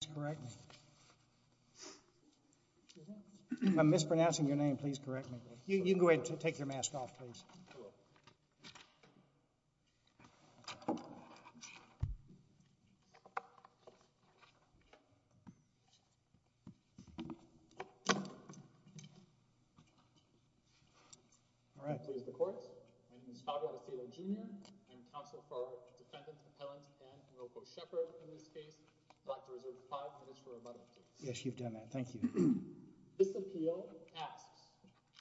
to correct me. I'm mispronouncing your name. Please correct me. You go ahead to take your mask off, please. All right, here's the court. My name is Fabio Castillo, Jr. I'm counsel for defendant, appellant, and in this case, I'd like to reserve five minutes for rebuttal, please. Yes, you've done that. Thank you. This appeal asks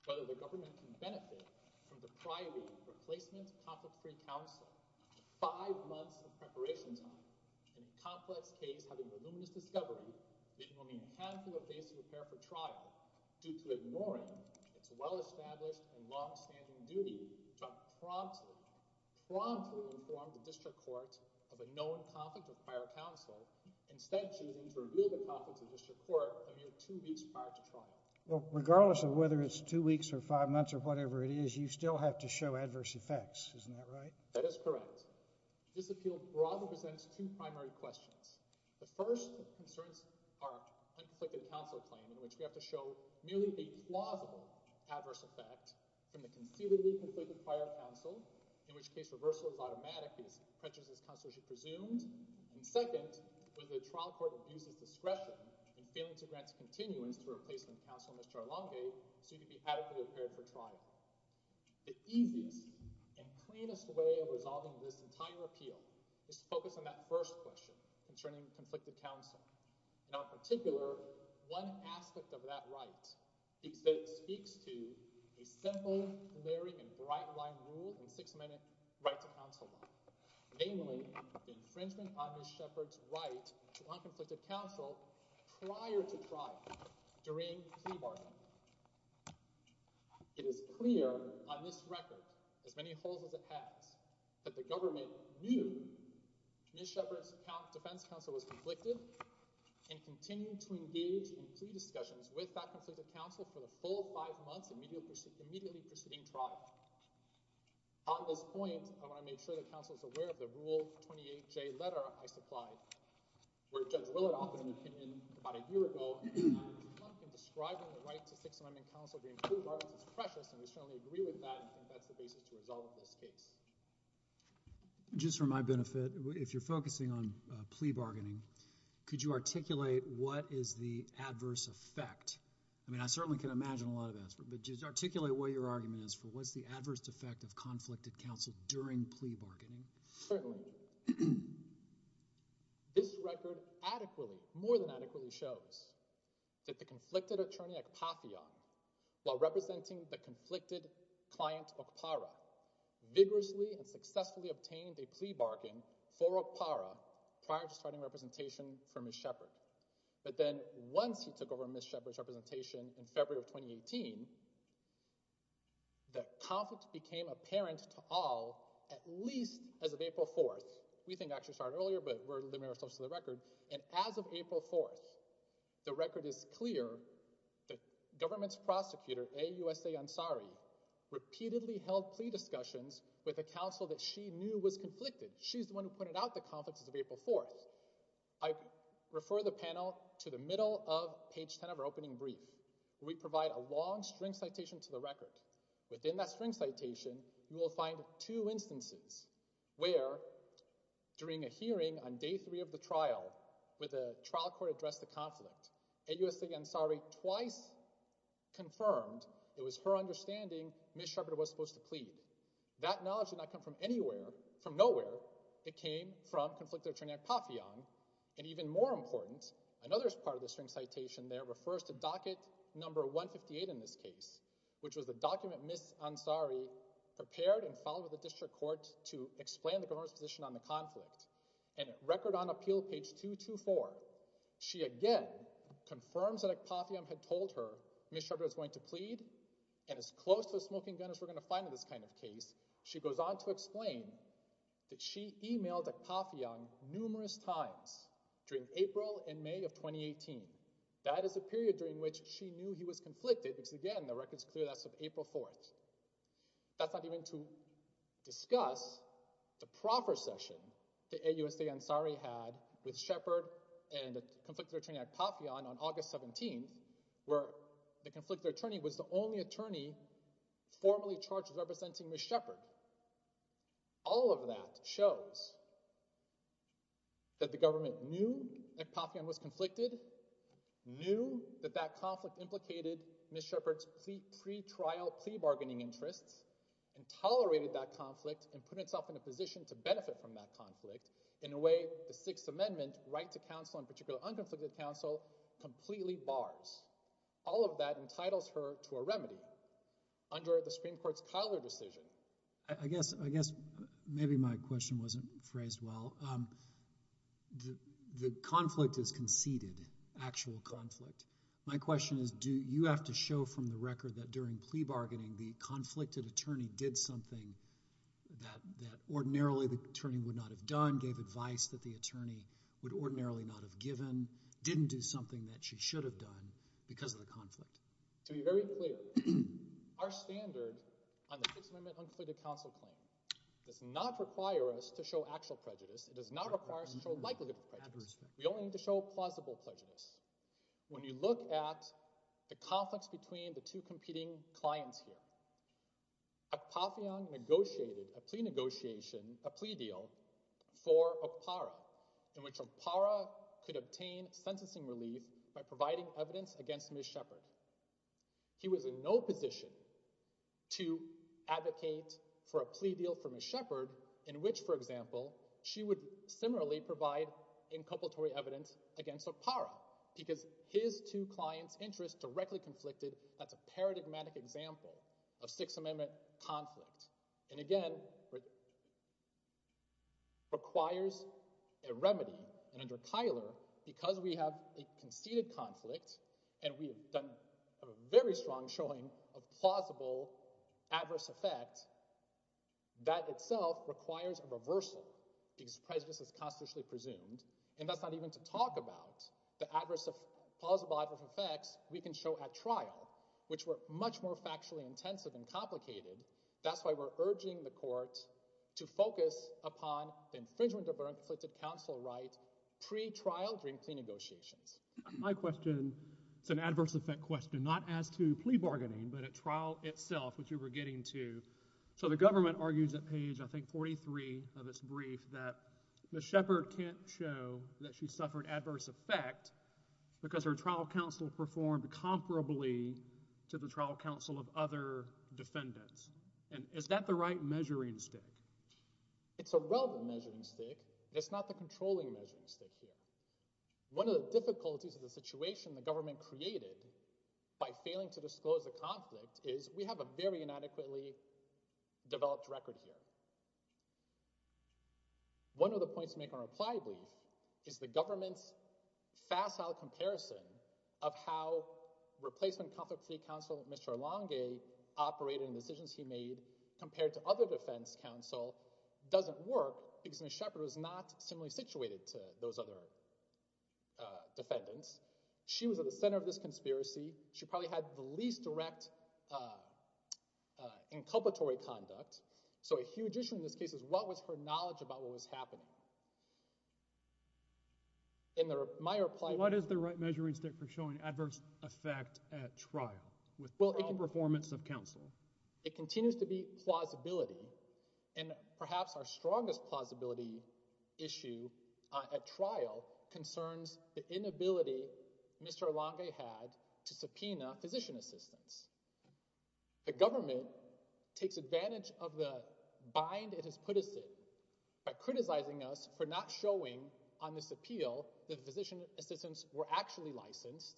whether the government can benefit from the priory replacement of conflict-free counsel. Five months of preparation time in a complex case having a voluminous discovery meaning only a handful of days to prepare for trial due to ignoring its well-established and long-standing duty to promptly, promptly inform the district court of a known conflict with prior counsel, instead choosing to a mere two weeks prior to trial. Well, regardless of whether it's two weeks or five months or whatever it is, you still have to show adverse effects, isn't that right? That is correct. This appeal broadly presents two primary questions. The first concerns our conflicted counsel claim in which we have to show merely a plausible adverse effect from the conceivably conflicted prior counsel, in which case reversal is automatic because prejudice is presumed, and second, whether the trial court abuses discretion in failing to grant continuance to replacement counsel, Mr. Arlongate, so you can be adequately prepared for trial. The easiest and cleanest way of resolving this entire appeal is to focus on that first question concerning conflicted counsel. In our particular, one aspect of that right speaks to a simple, glaring, and bright-line rule in Sixth Amendment right to counsel law, namely the infringement on Ms. Shepherd's right to unconflicted counsel prior to trial, during plea bargaining. It is clear on this record, as many holes as it has, that the government knew Ms. Shepherd's defense counsel was conflicted and continued to engage in plea discussions with that conflicted counsel for the full five months immediately preceding trial. On this point, I want to make sure that counsel is aware of the Rule 28J letter I supplied, where Judge Willard offered an opinion about a year ago in describing the right to Sixth Amendment counsel to include bargains as precious, and we strongly agree with that, and think that's the basis to resolve this case. Just for my benefit, if you're focusing on plea bargaining, could you articulate what is the adverse effect? I mean, I certainly can imagine a lot of that, but just articulate what your argument is for what's the adverse effect of conflicted counsel during plea bargaining. Certainly. This record adequately, more than adequately, shows that the conflicted attorney at Papheon, while repeatedly and successfully obtained a plea bargain for Opara prior to starting representation for Ms. Shepherd. But then once he took over Ms. Shepherd's representation in February of 2018, the conflict became apparent to all at least as of April 4th. We think it actually started earlier, but we're limiting ourselves to the record. And as of April 4th, the record is clear that government's prosecutor, A. USA Ansari, repeatedly held plea discussions with a counsel that she knew was conflicted. She's the one who pointed out the conflicts as of April 4th. I refer the panel to the middle of page 10 of our opening brief, where we provide a long string citation to the record. Within that string citation, you will find two instances where, during a hearing on day three of the trial, where the trial court addressed the conflict, A. USA Ansari twice confirmed it was her understanding Ms. Shepherd was supposed to plead. That knowledge did not come from anywhere, from nowhere. It came from conflicted attorney at Papheon. And even more important, another part of the string citation there refers to docket number 158 in this case, which was the document Ms. Ansari prepared and filed with the district court to explain the government's position on the conflict. And at record on appeal, page 224, she again confirms that at Papheon had told her Ms. Shepherd was going to plead, and as close to a smoking gun as we're going to find in this kind of case, she goes on to explain that she emailed at Papheon numerous times during April and May of 2018. That is a period during which she knew he was conflicted, because again, the record's clear that's of April 4th. That's not even to discuss the proffer session that A. USA Ansari had with the only attorney formally charged with representing Ms. Shepherd. All of that shows that the government knew that Papheon was conflicted, knew that that conflict implicated Ms. Shepherd's pretrial plea bargaining interests, and tolerated that conflict and put itself in a position to benefit from that conflict in a way the Sixth Amendment right to counsel, in particular under the Supreme Court's Cuyler decision. I guess maybe my question wasn't phrased well. The conflict is conceded, actual conflict. My question is, do you have to show from the record that during plea bargaining the conflicted attorney did something that ordinarily the attorney would not have done, gave advice that the attorney would ordinarily not have given, didn't do something that she should have done because of the Our standard on the Sixth Amendment unclear to counsel claim does not require us to show actual prejudice. It does not require us to show likelihood of prejudice. We only need to show plausible prejudice. When you look at the conflicts between the two competing clients here, Papheon negotiated a plea negotiation, a plea deal for Opara, in which Opara could obtain sentencing relief by Opara was in no position to advocate for a plea deal for Ms. Shepherd, in which, for example, she would similarly provide inculpatory evidence against Opara, because his two clients' interests directly conflicted. That's a paradigmatic example of Sixth Amendment conflict. And again, requires a remedy, and under Cuyler, because we have a conceded conflict, and we have done a very strong showing of plausible adverse effects, that itself requires a reversal because prejudice is constitutionally presumed, and that's not even to talk about the adverse, plausible adverse effects we can show at trial, which were much more factually intensive and complicated. That's why we're urging the court to focus upon the infringement of our conflicted counsel right pre-trial during plea negotiations. My question, it's an adverse effect question, not as to plea bargaining, but at trial itself, which you were getting to. So the government argues at page, I think, 43 of its brief, that Ms. Shepherd can't show that she suffered adverse effect because her trial counsel performed comparably to the trial counsel of other defendants. And is that the right measuring stick? It's a relevant measuring stick. It's not the controlling measuring stick here. One of the difficulties of the situation the government created by failing to disclose the conflict is we have a very inadequately developed record here. One of the points to make on reply brief is the government's facile comparison of how replacement conflict plea counsel, Mr. Elonge, operated in decisions he made compared to other defense counsel doesn't work because Ms. Shepherd was not similarly situated to those other defendants. She was at the center of this conspiracy. She probably had the least direct inculpatory conduct. So a huge issue in this case is what was her knowledge about what was happening? In my reply... What is the right measuring stick for showing adverse effect at trial with poor performance of counsel? It continues to be plausibility and perhaps our strongest plausibility issue at trial concerns the inability Mr. Elonge had to subpoena physician assistants. The government takes advantage of the bind it has put us in by criticizing us for not showing on this appeal that physician assistants were actually licensed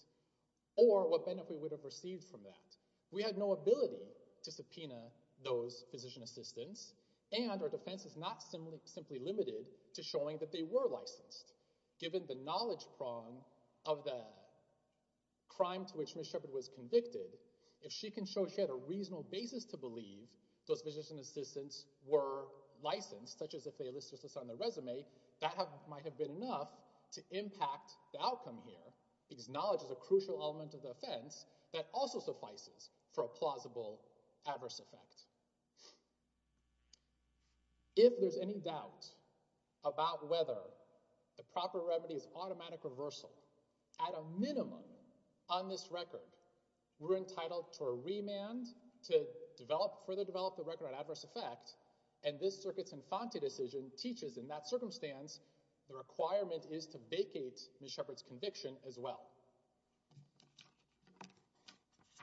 or what benefit we would have received from that. We had no ability to subpoena those physician assistants and our defense is not simply limited to showing that they were licensed. Given the knowledge prong of the crime to which Ms. Shepherd was convicted, if she can show she had a knowledge of the crime, because knowledge is a crucial element of the offense, that also suffices for a plausible adverse effect. If there's any doubt about whether the proper remedy is automatic reversal, at a minimum on this record, we're entitled to a remand to further develop the record on adverse effect and this circuit's infante decision teaches in that circumstance the requirement is to vacate Ms. Shepherd's conviction as well.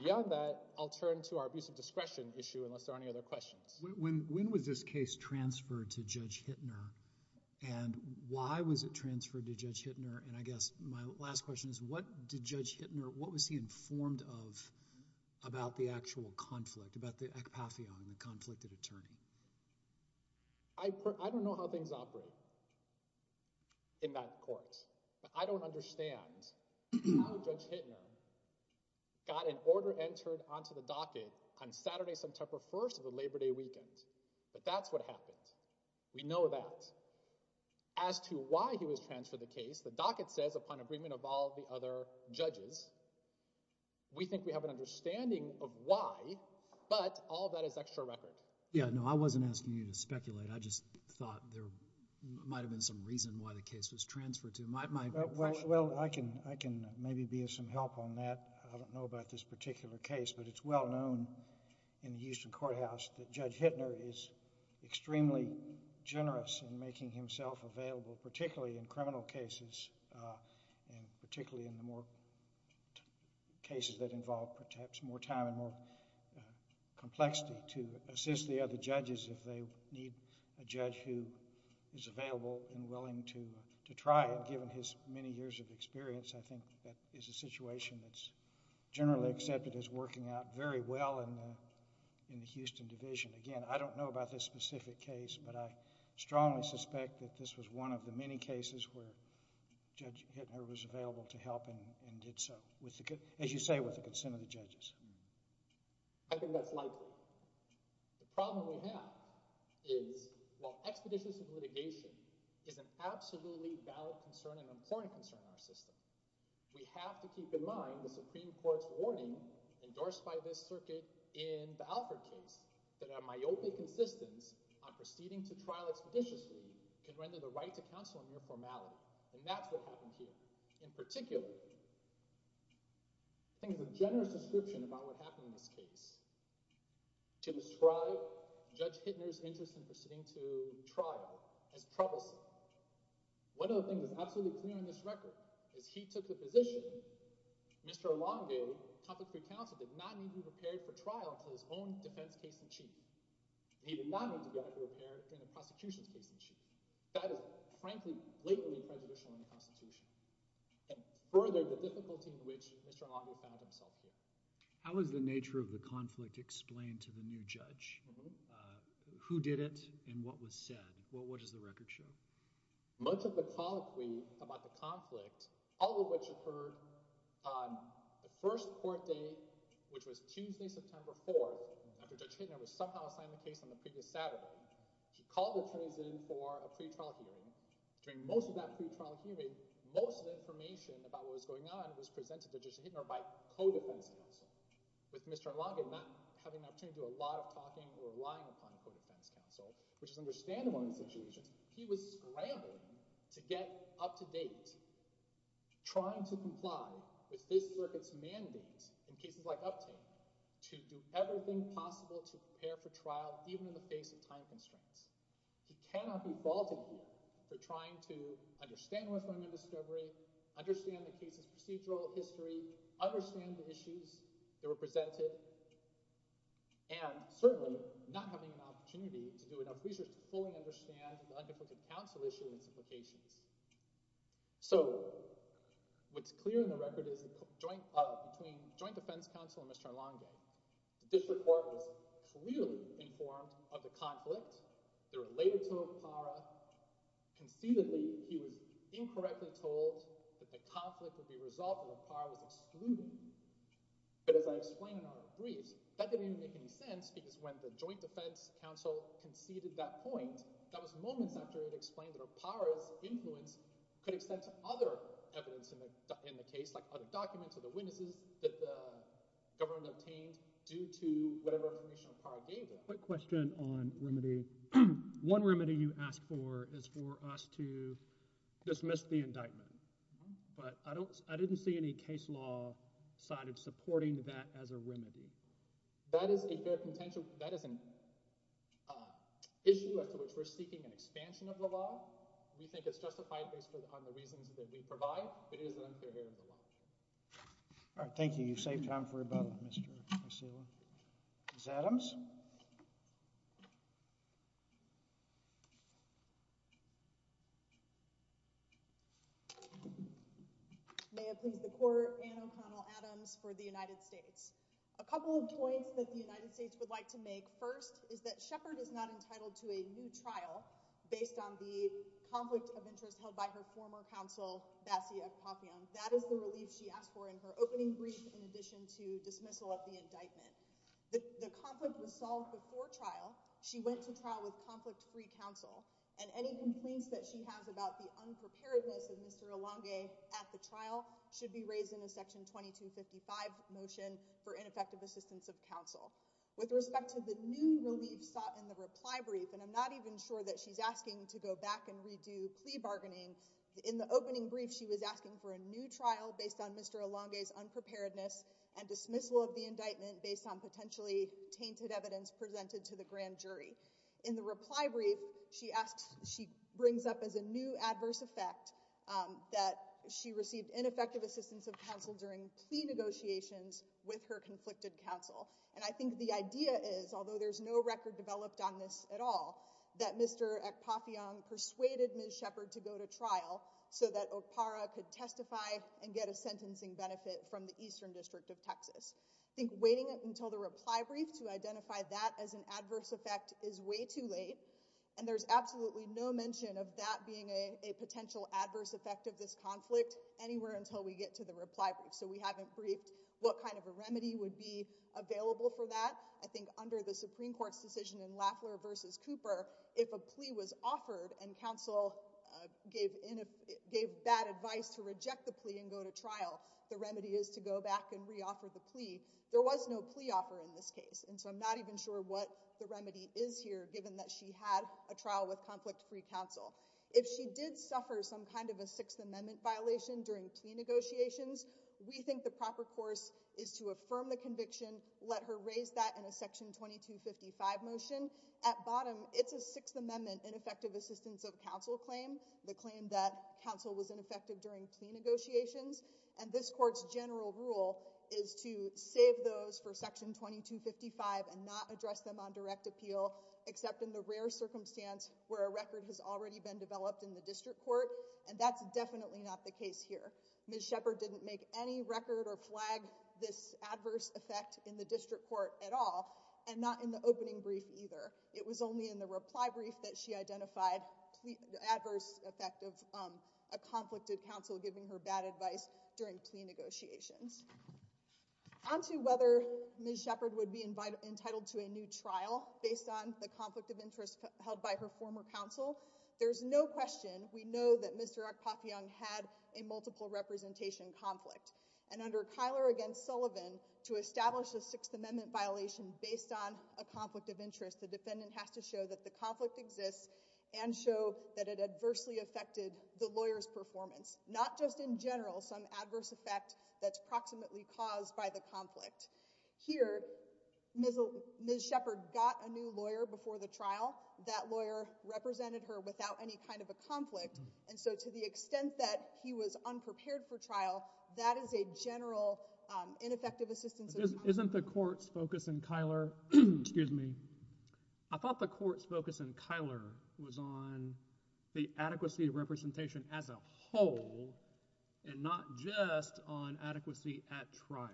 Beyond that, I'll turn to our abuse of discretion issue unless there are any other questions. When was this case transferred to Judge Hittner and why was it transferred to Judge Hittner and I guess my last question is what did Judge Hittner, what was he I don't know how things operate in that court. I don't understand how Judge Hittner got an order entered onto the docket on Saturday, September 1st of the Labor Day weekend, but that's what happened. We know that. As to why he was transferred the case, the docket says upon agreement of all the other judges, we think we have an understanding of why, but all that is extra record. Yeah, no, I wasn't asking you to speculate. I just thought there might have been some reason why the case was transferred to him. Well, I can maybe be of some help on that. I don't know about this particular case, but it's well known in the Houston courthouse that Judge Hittner is extremely generous in making himself available, particularly in criminal cases and particularly in the more cases that involve perhaps more time and more complexity to assist the other judges if they need a judge who is available and willing to try it given his many years of experience. I think that is a situation that's generally accepted as working out very well in the Houston division. Again, I don't know about this specific case, but I strongly suspect that this was one of the many cases where Judge Hittner was available to help and did so, as you say, with the consent of the judges. I think that's likely. The problem we have is while expeditions of litigation is an absolutely valid concern and important concern in our system, we have to keep in mind the Supreme Court's warning endorsed by this circuit in the Alford case that a myopic insistence on proceeding to trial expeditiously could render the right to counsel a mere formality. And that's what happened here. In particular, I think there's a generous description about what happened in this case to describe Judge Hittner's interest in proceeding to trial as troublesome. One of the things that's absolutely clear in this record is he took the position that Mr. Elongate, a conflict-free counsel, did not need to be prepared for trial until his own defense case in chief. He did not need to be able to prepare in a prosecution's case in chief. That is frankly blatantly prejudicial in the Constitution and furthered the difficulty in which Mr. Elongate found himself here. How is the nature of the conflict explained to the new judge? Who did it and what was said? What does the record show? Much of the colloquy about the conflict, all of which occurred on the first court date, which was Tuesday, September 4th, after Judge Hittner was somehow assigned the case on the previous Saturday, he called the attorneys in for a pretrial hearing. During most of that pretrial hearing, most of the information about what was going on was presented to Judge Hittner by co-defense counsel. With Mr. Elongate not having an opportunity to do a lot of talking or relying upon a co-defense counsel, which is understandable in this situation, he was scrambling to get up-to-date, trying to comply with this circuit's mandate in cases like Uptate to do everything possible to prepare for trial, even in the face of time constraints. He cannot be faulted here for trying to understand North Carolina's discovery, understand the case's procedural history, understand the issues that were presented, and certainly not having an opportunity to do enough research to fully understand the undefended counsel issue and its implications. So, what's clear in the record is that between joint defense counsel and Mr. Elongate, the district court was clearly informed of the conflict. They were later told of PARA. Conceitedly, he was incorrectly told that the conflict would be resolved when PARA was excluded. But as I explained in our briefs, that didn't even make any sense because when the joint defense counsel conceded that point, that was moments after it was explained that a PARA's influence could extend to other evidence in the case, like other documents or the witnesses that the government obtained due to whatever information PARA gave them. I have a quick question on remedy. One remedy you asked for is for us to dismiss the indictment. But I didn't see any case law side of supporting that as a remedy. That is a fair contention. That is an issue as to which we're seeking an expansion of the law. We think it's justified based on the reasons that we provide. It is unfair here in the law. All right. Thank you. You saved time for about Mr. Adams. May it please the court. Anna O'Connell Adams for the United States. A couple of points that the United States would like to make first is that Shepard is not entitled to a new trial based on the conflict of interest held by her former counsel, Basia Papiam. That is the relief she asked for in her opening brief. In addition to dismissal of the indictment, the conflict was solved before trial. She went to trial with conflict free counsel and any complaints that she has about the unpreparedness of Mr. Elongate at the trial should be raised in a Section 2255 motion for ineffective assistance of counsel. With respect to the new relief sought in the reply brief, and I'm not even sure that she's asking to go back and redo plea bargaining in the opening brief. She was asking for a new trial based on Mr. Elongate's unpreparedness and dismissal of the indictment based on potentially tainted evidence presented to the grand jury in the reply brief. She asked. She brings up as a new adverse effect that she received ineffective assistance of counsel during plea negotiations with her conflicted counsel. And I think the idea is, although there's no record developed on this at all, that Mr. Papiam persuaded Ms. Shepard to go to trial so that Okpara could testify and get a sentencing benefit from the Eastern District of Texas. I think waiting until the reply brief to identify that as an adverse effect is way too late. And there's absolutely no mention of that being a potential adverse effect of this conflict anywhere until we get to the reply brief. So we haven't briefed what kind of a remedy would be available for that. I think under the Supreme Court's decision in Lafleur versus Cooper, if a plea was offered and counsel gave in, gave bad advice to reject the plea and go to trial. The remedy is to go back and reoffer the plea. There was no plea offer in this case. And so I'm not even sure what the remedy is here, given that she had a trial with conflict free counsel. If she did suffer some kind of a Sixth Amendment violation during plea negotiations, we think the proper course is to affirm the conviction, let her raise that in a Section 2255 motion. At bottom, it's a Sixth Amendment ineffective assistance of counsel claim, the claim that counsel was ineffective during plea negotiations. And this court's general rule is to save those for Section 2255 and not address them on direct appeal, except in the rare circumstance where a record has already been developed in the district court. And that's definitely not the case here. Ms. Shepard didn't make any record or flag this adverse effect in the district court at all and not in the opening brief either. It was only in the reply brief that she identified the adverse effect of a conflicted counsel giving her bad advice during plea negotiations. On to whether Ms. Shepard would be entitled to a new trial based on the conflict of interest held by her former counsel. There's no question we know that Mr. Akpafian had a multiple representation conflict. And under Kyler against Sullivan, to establish a Sixth Amendment violation based on a conflict of interest, the defendant has to show that the conflict exists and show that it adversely affected the lawyer's performance. Not just in general, some adverse effect that's proximately caused by the conflict. Here, Ms. Shepard got a new lawyer before the trial. That lawyer represented her without any kind of a conflict. And so to the extent that he was unprepared for trial, that is a general ineffective assistance. Isn't the court's focus in Kyler? Excuse me. I thought the court's focus in Kyler was on the adequacy of representation as a whole and not just on adequacy at trial.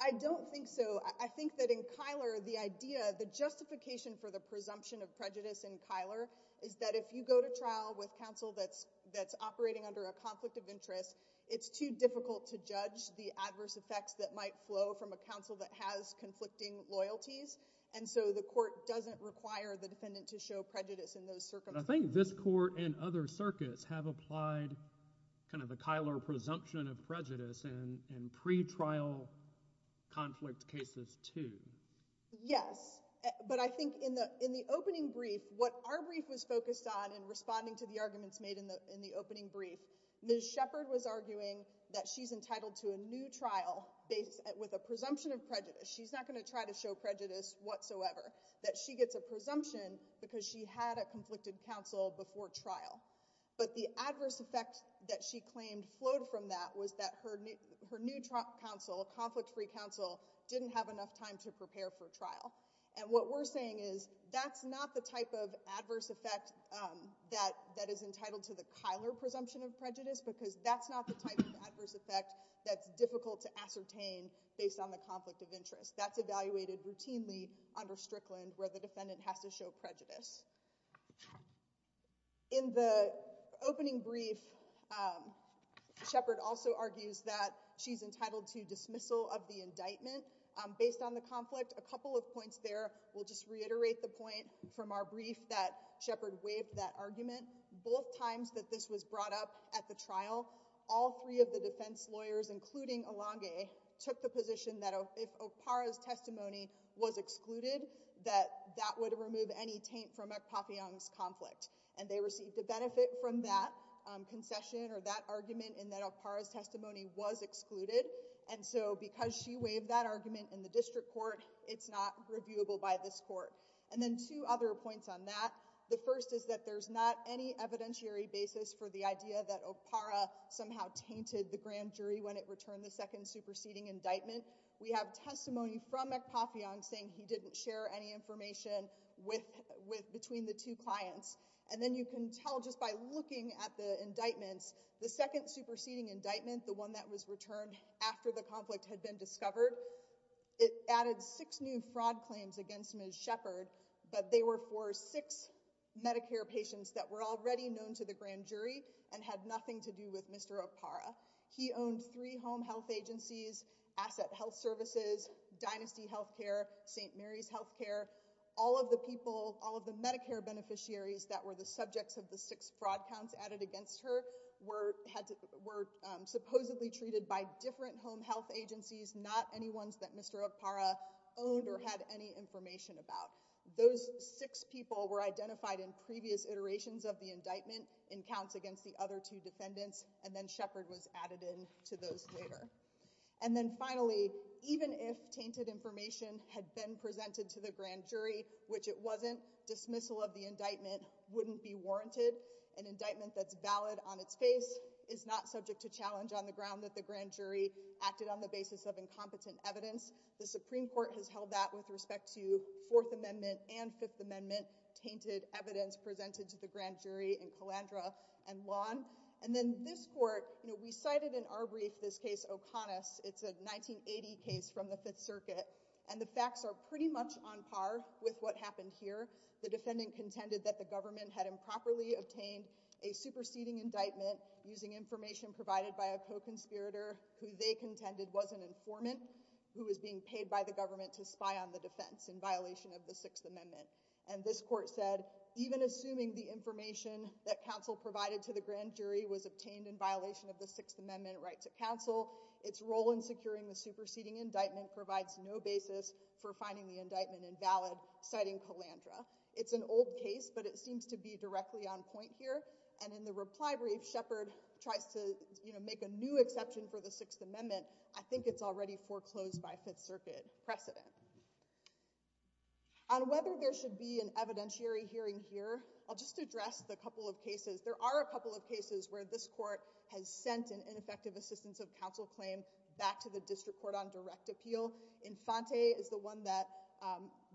I don't think so. I think that in Kyler, the idea, the justification for the presumption of prejudice in Kyler is that if you go to trial with counsel that's operating under a conflict of interest, it's too difficult to judge the adverse effects that might flow from a counsel that has conflicting loyalties. And so the court doesn't require the defendant to show prejudice in those circumstances. But I think this court and other circuits have applied kind of a Kyler presumption of prejudice in pretrial conflict cases too. Yes. But I think in the opening brief, what our brief was focused on in responding to the arguments made in the opening brief, Ms. Shepard was arguing that she's entitled to a new trial with a presumption of prejudice. She's not going to try to show prejudice whatsoever. That she gets a presumption because she had a conflicted counsel before trial. But the adverse effect that she claimed flowed from that was that her new counsel, a conflict-free counsel, didn't have enough time to prepare for trial. And what we're saying is that's not the type of adverse effect that is entitled to the Kyler presumption of prejudice because that's not the type of adverse effect that's difficult to ascertain based on the conflict of interest. That's evaluated routinely under Strickland where the defendant has to show prejudice. In the opening brief, Shepard also argues that she's entitled to dismissal of the indictment based on the conflict. A couple of points there. We'll just reiterate the point from our brief that Shepard waived that argument. Both times that this was brought up at the trial, all three of the defense lawyers, including Alange, took the position that if Okpara's testimony was excluded, that that would remove any taint from McPafion's conflict. And they received a benefit from that concession or that argument in that Okpara's testimony was excluded. And so because she waived that argument in the district court, it's not reviewable by this court. And then two other points on that. The first is that there's not any evidentiary basis for the idea that Okpara somehow tainted the grand jury when it returned the second superseding indictment. We have testimony from McPafion saying he didn't share any information between the two clients. And then you can tell just by looking at the indictments, the second superseding indictment, the one that was returned after the conflict had been discovered, it added six new fraud claims against Ms. Shepard. But they were for six Medicare patients that were already known to the grand jury and had nothing to do with Mr. Okpara. He owned three home health agencies, Asset Health Services, Dynasty Healthcare, St. Mary's Healthcare. All of the people, all of the Medicare beneficiaries that were the subjects of the six fraud counts added against her were supposedly treated by different home health agencies, not any ones that Mr. Okpara owned or had any information about. Those six people were identified in previous iterations of the indictment in counts against the other two defendants. And then Shepard was added in to those later. And then finally, even if tainted information had been presented to the grand jury, which it wasn't, dismissal of the indictment wouldn't be warranted. An indictment that's valid on its face is not subject to challenge on the ground that the grand jury acted on the basis of incompetent evidence. The Supreme Court has held that with respect to Fourth Amendment and Fifth Amendment tainted evidence presented to the grand jury in Calandra and Lawn. And then this court, you know, we cited in our brief this case, O'Connor's. It's a 1980 case from the Fifth Circuit. And the facts are pretty much on par with what happened here. The defendant contended that the government had improperly obtained a superseding indictment using information provided by a co-conspirator who they contended was an informant who was being paid by the government to spy on the defense in violation of the Sixth Amendment. And this court said, even assuming the information that counsel provided to the grand jury was obtained in violation of the Sixth Amendment right to counsel, its role in securing the superseding indictment provides no basis for finding the indictment invalid, citing Calandra. It's an old case, but it seems to be directly on point here. And in the reply brief, Shepard tries to make a new exception for the Sixth Amendment. I think it's already foreclosed by Fifth Circuit precedent. On whether there should be an evidentiary hearing here, I'll just address the couple of cases. There are a couple of cases where this court has sent an ineffective assistance of counsel claim back to the district court on direct appeal. Infante is the one that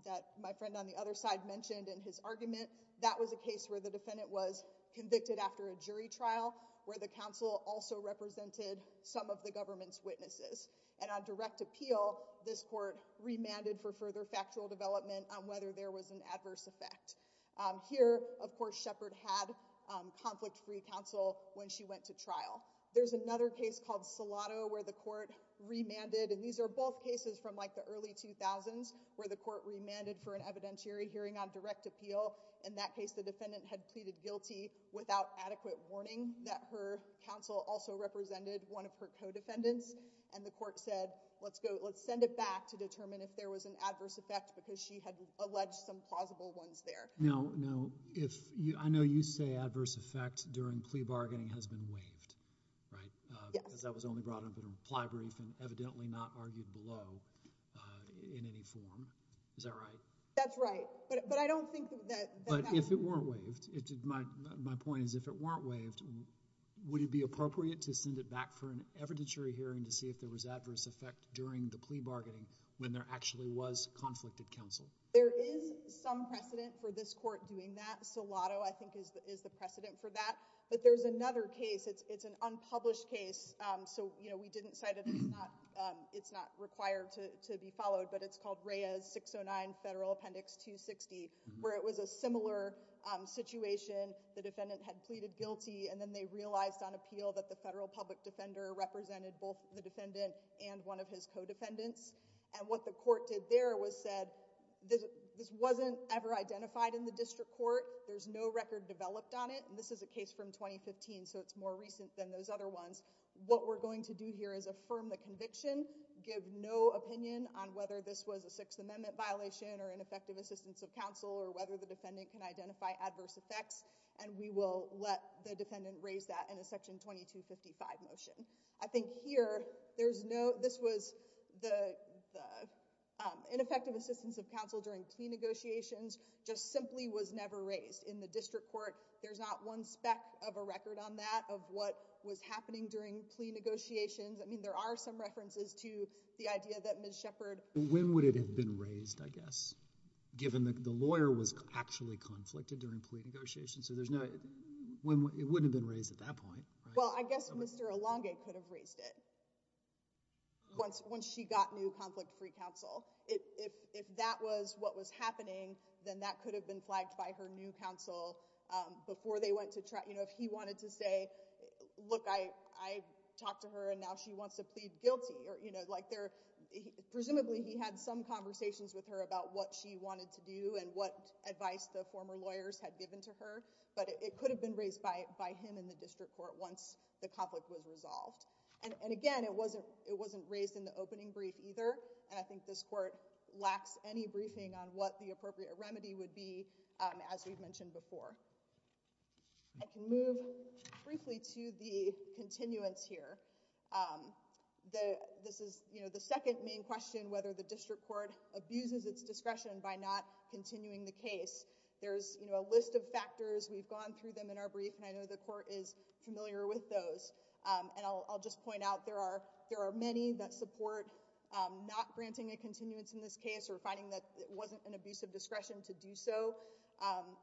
that my friend on the other side mentioned in his argument. That was a case where the defendant was convicted after a jury trial, where the council also represented some of the government's witnesses. And on direct appeal, this court remanded for further factual development on whether there was an adverse effect here. Of course, Shepard had conflict free counsel when she went to trial. There's another case called Salado where the court remanded. And these are both cases from like the early 2000s where the court remanded for an evidentiary hearing on direct appeal. In that case, the defendant had pleaded guilty without adequate warning that her counsel also represented one of her co-defendants. And the court said, let's go. Let's send it back to determine if there was an adverse effect because she had alleged some plausible ones there. No, no. If you I know you say adverse effect during plea bargaining has been waived, right? Because that was only brought up in a reply brief and evidently not argued below in any form. Is that right? That's right. But I don't think that if it weren't waived, it did. My point is, if it weren't waived, would it be appropriate to send it back for an evidentiary hearing to see if there was adverse effect during the plea bargaining when there actually was conflicted counsel? There is some precedent for this court doing that. Salado, I think, is the precedent for that. But there's another case. It's an unpublished case. So, you know, we didn't cite it. It's not it's not required to be followed. But it's called Reyes 609 Federal Appendix 260, where it was a similar situation. The defendant had pleaded guilty and then they realized on appeal that the federal public defender represented both the defendant and one of his co-defendants. And what the court did there was said this wasn't ever identified in the district court. There's no record developed on it. And this is a case from 2015. So it's more recent than those other ones. What we're going to do here is affirm the conviction. Give no opinion on whether this was a Sixth Amendment violation or ineffective assistance of counsel or whether the defendant can identify adverse effects. And we will let the defendant raise that in a Section 2255 motion. I think here there's no this was the ineffective assistance of counsel during plea negotiations just simply was never raised in the district court. There's not one speck of a record on that of what was happening during plea negotiations. I mean, there are some references to the idea that Ms. Shepard. When would it have been raised, I guess, given that the lawyer was actually conflicted during plea negotiations. So there's no way it wouldn't have been raised at that point. Well, I guess Mr. Alonge could have raised it. Once once she got new conflict free counsel, if that was what was happening, then that could have been flagged by her new counsel before they went to try. You know, if he wanted to say, look, I, I talked to her and now she wants to plead guilty or, you know, like there. Presumably he had some conversations with her about what she wanted to do and what advice the former lawyers had given to her. But it could have been raised by by him in the district court once the conflict was resolved. And again, it wasn't it wasn't raised in the opening brief either. And I think this court lacks any briefing on what the appropriate remedy would be, as we've mentioned before. I can move briefly to the continuance here. The this is the second main question, whether the district court abuses its discretion by not continuing the case. There's a list of factors. We've gone through them in our brief. And I know the court is familiar with those. And I'll just point out there are there are many that support not granting a continuance in this case or finding that it wasn't an abusive discretion to do so.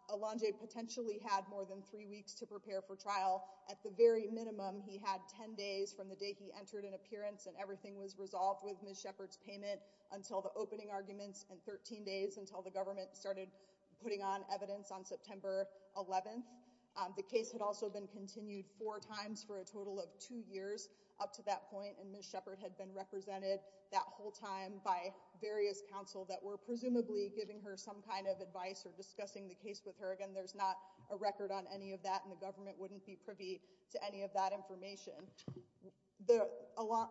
Alonge potentially had more than three weeks to prepare for trial. At the very minimum, he had 10 days from the day he entered an appearance and everything was resolved with Ms. Shepard's payment until the opening arguments and 13 days until the government started putting on evidence on September 11th. The case had also been continued four times for a total of two years up to that point. And Ms. Shepard had been represented that whole time by various counsel that were presumably giving her some kind of advice or discussing the case with her. Again, there's not a record on any of that. And the government wouldn't be privy to any of that information.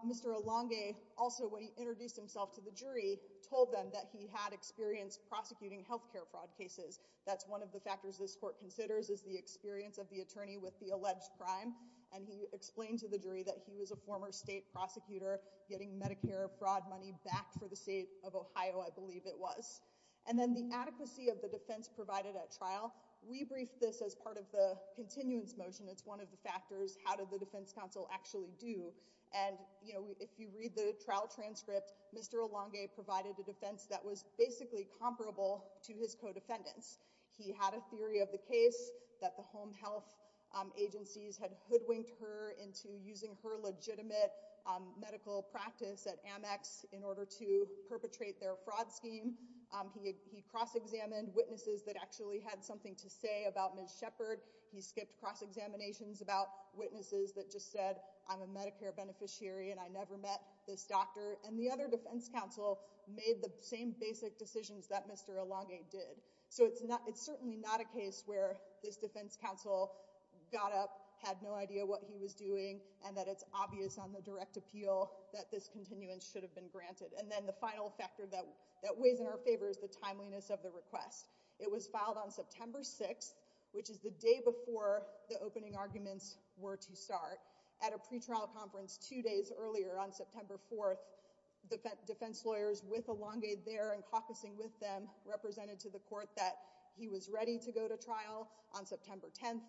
Mr. Alonge also introduced himself to the jury, told them that he had experience prosecuting health care fraud cases. That's one of the factors this court considers is the experience of the attorney with the alleged crime. And he explained to the jury that he was a former state prosecutor getting Medicare fraud money back for the state of Ohio, I believe it was. And then the adequacy of the defense provided at trial. We briefed this as part of the continuance motion. It's one of the factors. How did the defense counsel actually do? And, you know, if you read the trial transcript, Mr. Alonge provided a defense that was basically comparable to his co-defendants. He had a theory of the case that the home health agencies had hoodwinked her into using her legitimate medical practice at Amex in order to perpetrate their fraud scheme. He cross-examined witnesses that actually had something to say about Ms. Shepard. He skipped cross-examinations about witnesses that just said, I'm a Medicare beneficiary and I never met this doctor. And the other defense counsel made the same basic decisions that Mr. Alonge did. So it's certainly not a case where this defense counsel got up, had no idea what he was doing, and that it's obvious on the direct appeal that this continuance should have been granted. And then the final factor that weighs in our favor is the timeliness of the request. It was filed on September 6th, which is the day before the opening arguments were to start. At a pretrial conference two days earlier on September 4th, defense lawyers with Alonge there and caucusing with them represented to the court that he was ready to go to trial on September 10th,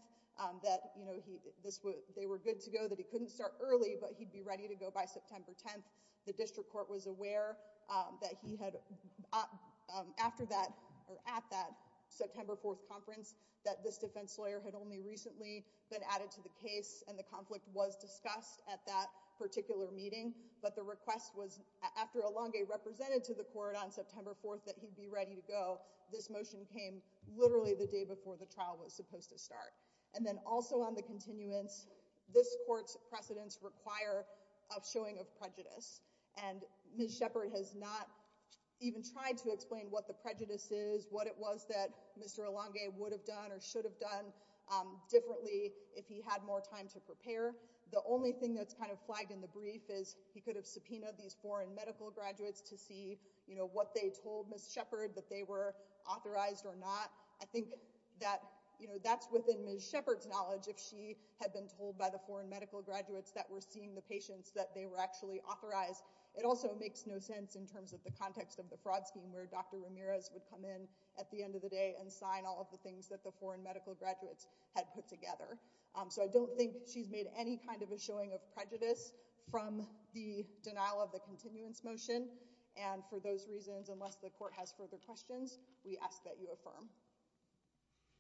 that they were good to go, that he couldn't start early, but he'd be ready to go by September 10th. The district court was aware that he had, after that, or at that September 4th conference, that this defense lawyer had only recently been added to the case and the conflict was discussed at that particular meeting. But the request was, after Alonge represented to the court on September 4th that he'd be ready to go, this motion came literally the day before the trial was supposed to start. And then also on the continuance, this court's precedents require a showing of prejudice. And Ms. Shepard has not even tried to explain what the prejudice is, what it was that Mr. Alonge would have done or should have done differently if he had more time to prepare. The only thing that's kind of flagged in the brief is he could have subpoenaed these foreign medical graduates to see what they told Ms. Shepard, that they were authorized or not. I think that, you know, that's within Ms. Shepard's knowledge if she had been told by the foreign medical graduates that were seeing the patients that they were actually authorized. It also makes no sense in terms of the context of the fraud scheme where Dr. Ramirez would come in at the end of the day and sign all of the things that the foreign medical graduates had put together. So I don't think she's made any kind of a showing of prejudice from the denial of the continuance motion. And for those reasons, unless the court has further questions, we ask that you affirm.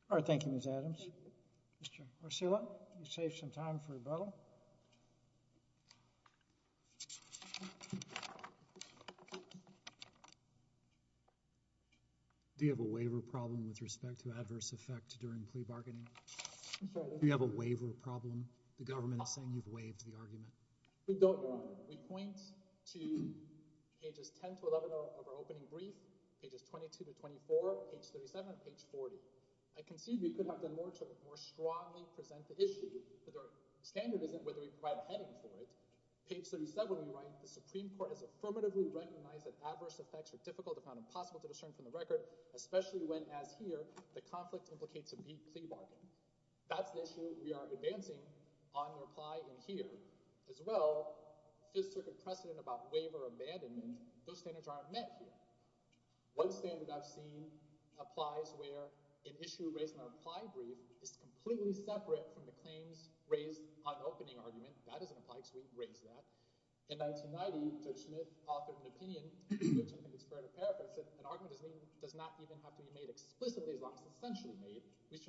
All right, thank you, Ms. Adams. Mr. Arcella, you saved some time for rebuttal. Do you have a waiver problem with respect to adverse effect during plea bargaining? Do you have a waiver problem? The government is saying you've waived the argument. We don't, Your Honor. We point to pages 10 to 11 of our opening brief, pages 22 to 24, page 37, page 40. I concede we could have done more to more strongly present the issue, but the standard isn't whether we provide a heading for it. Page 37, we write, the Supreme Court has affirmatively recognized that adverse effects are difficult if not impossible to discern from the record, especially when, as here, the conflict implicates a plea bargain. That's the issue we are advancing on the reply in here. As well, Fifth Circuit precedent about waiver abandonment, those standards aren't met here. One standard I've seen applies where an issue raised in our reply brief is completely separate from the claims raised on opening argument. That doesn't apply, so we raise that. In 1990, Judge Smith offered an opinion, which I think is fair to paraphrase, that an argument does not even have to be made explicitly as long as it's essentially made. The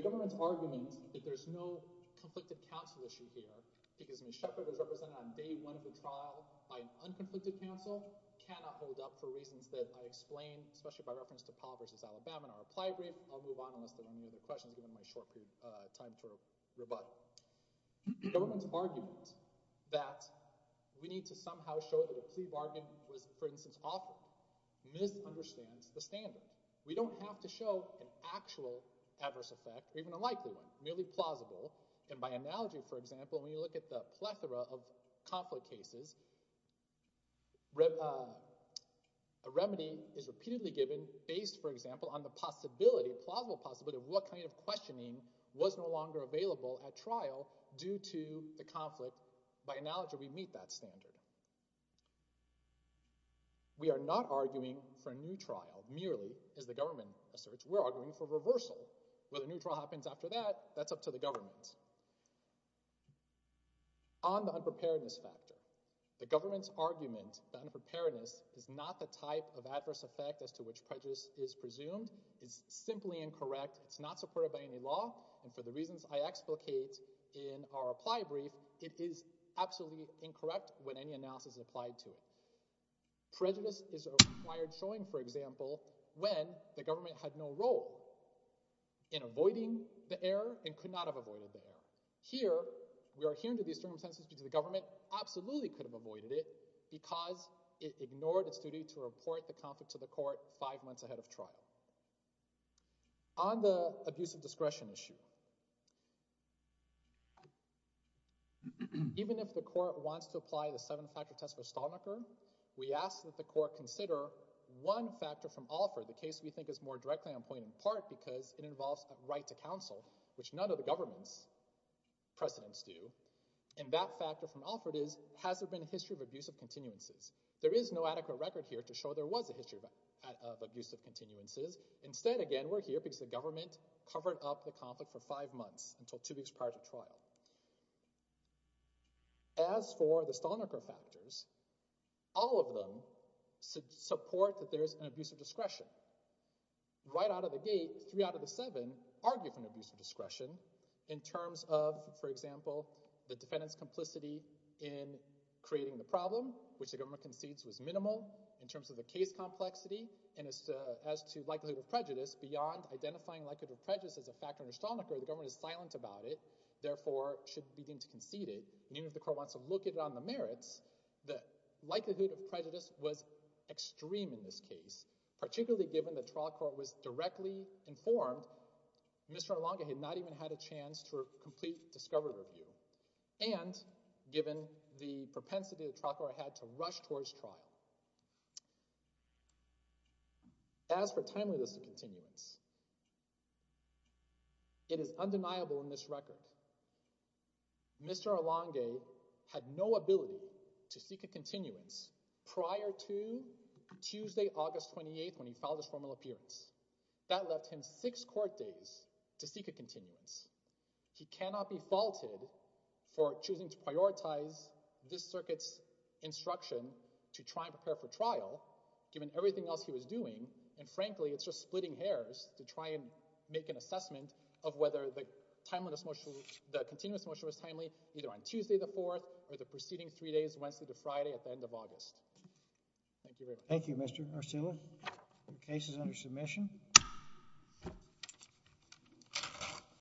government's argument that there's no conflicted counsel issue here because Ms. Shepard was represented on day one of the trial by an unconflicted counsel cannot hold up for reasons that I explained, especially by reference to Paul v. Alabama in our reply brief. I'll move on unless there are any other questions given my short period of time to rebut. The government's argument that we need to somehow show that a plea bargain was, for instance, offered misunderstands the standard. We don't have to show an actual adverse effect or even a likely one, merely plausible. By analogy, for example, when you look at the plethora of conflict cases, a remedy is repeatedly given based, for example, on the possibility, plausible possibility, of what kind of questioning was no longer available at trial due to the conflict. By analogy, we meet that standard. We are not arguing for a new trial merely, as the government asserts. We're arguing for reversal. Whether a new trial happens after that, that's up to the government. On the unpreparedness factor, the government's argument that unpreparedness is not the type of adverse effect as to which prejudice is presumed is simply incorrect. It's not supported by any law, and for the reasons I explicate in our reply brief, it is absolutely incorrect when any analysis is applied to it. Prejudice is required showing, for example, when the government had no role in avoiding the error and could not have avoided the error. Here, we are hearing these circumstances because the government absolutely could have avoided it because it ignored its duty to report the conflict to the court five months ahead of trial. On the abuse of discretion issue, even if the court wants to apply the seven-factor test for Stallnacher, we ask that the court consider one factor from Alford, the case we think is more directly on point in part because it involves a right to counsel, which none of the government's precedents do, and that factor from Alford is, has there been a history of abusive continuances? There is no adequate record here to show there was a history of abusive continuances. Instead, again, we're here because the government covered up the conflict for five months until two weeks prior to trial. As for the Stallnacher factors, all of them support that there is an abuse of discretion. Right out of the gate, three out of the seven argue for an abuse of discretion in terms of, for example, the defendant's complicity in creating the problem, which the government concedes was minimal, in terms of the case complexity, and as to likelihood of prejudice. Beyond identifying likelihood of prejudice as a factor under Stallnacher, the government is silent about it, therefore should begin to concede it. Even if the court wants to look at it on the merits, the likelihood of prejudice was extreme in this case, particularly given the trial court was directly informed, Mr. Arlonga had not even had a chance to complete discovery review, and given the propensity the trial court had to rush towards trial. As for timeliness of continuance, it is undeniable in this record. Mr. Arlonga had no ability to seek a continuance prior to Tuesday, August 28th, when he filed his formal appearance. That left him six court days to seek a continuance. He cannot be faulted for choosing to prioritize this circuit's instruction to try and prepare for trial, given everything else he was doing, and frankly, it's just splitting hairs to try and make an assessment of whether the continuance motion was timely, either on Tuesday the 4th, or the preceding three days, Wednesday to Friday at the end of August. Thank you very much. Thank you, Mr. Arcila. The case is under submission.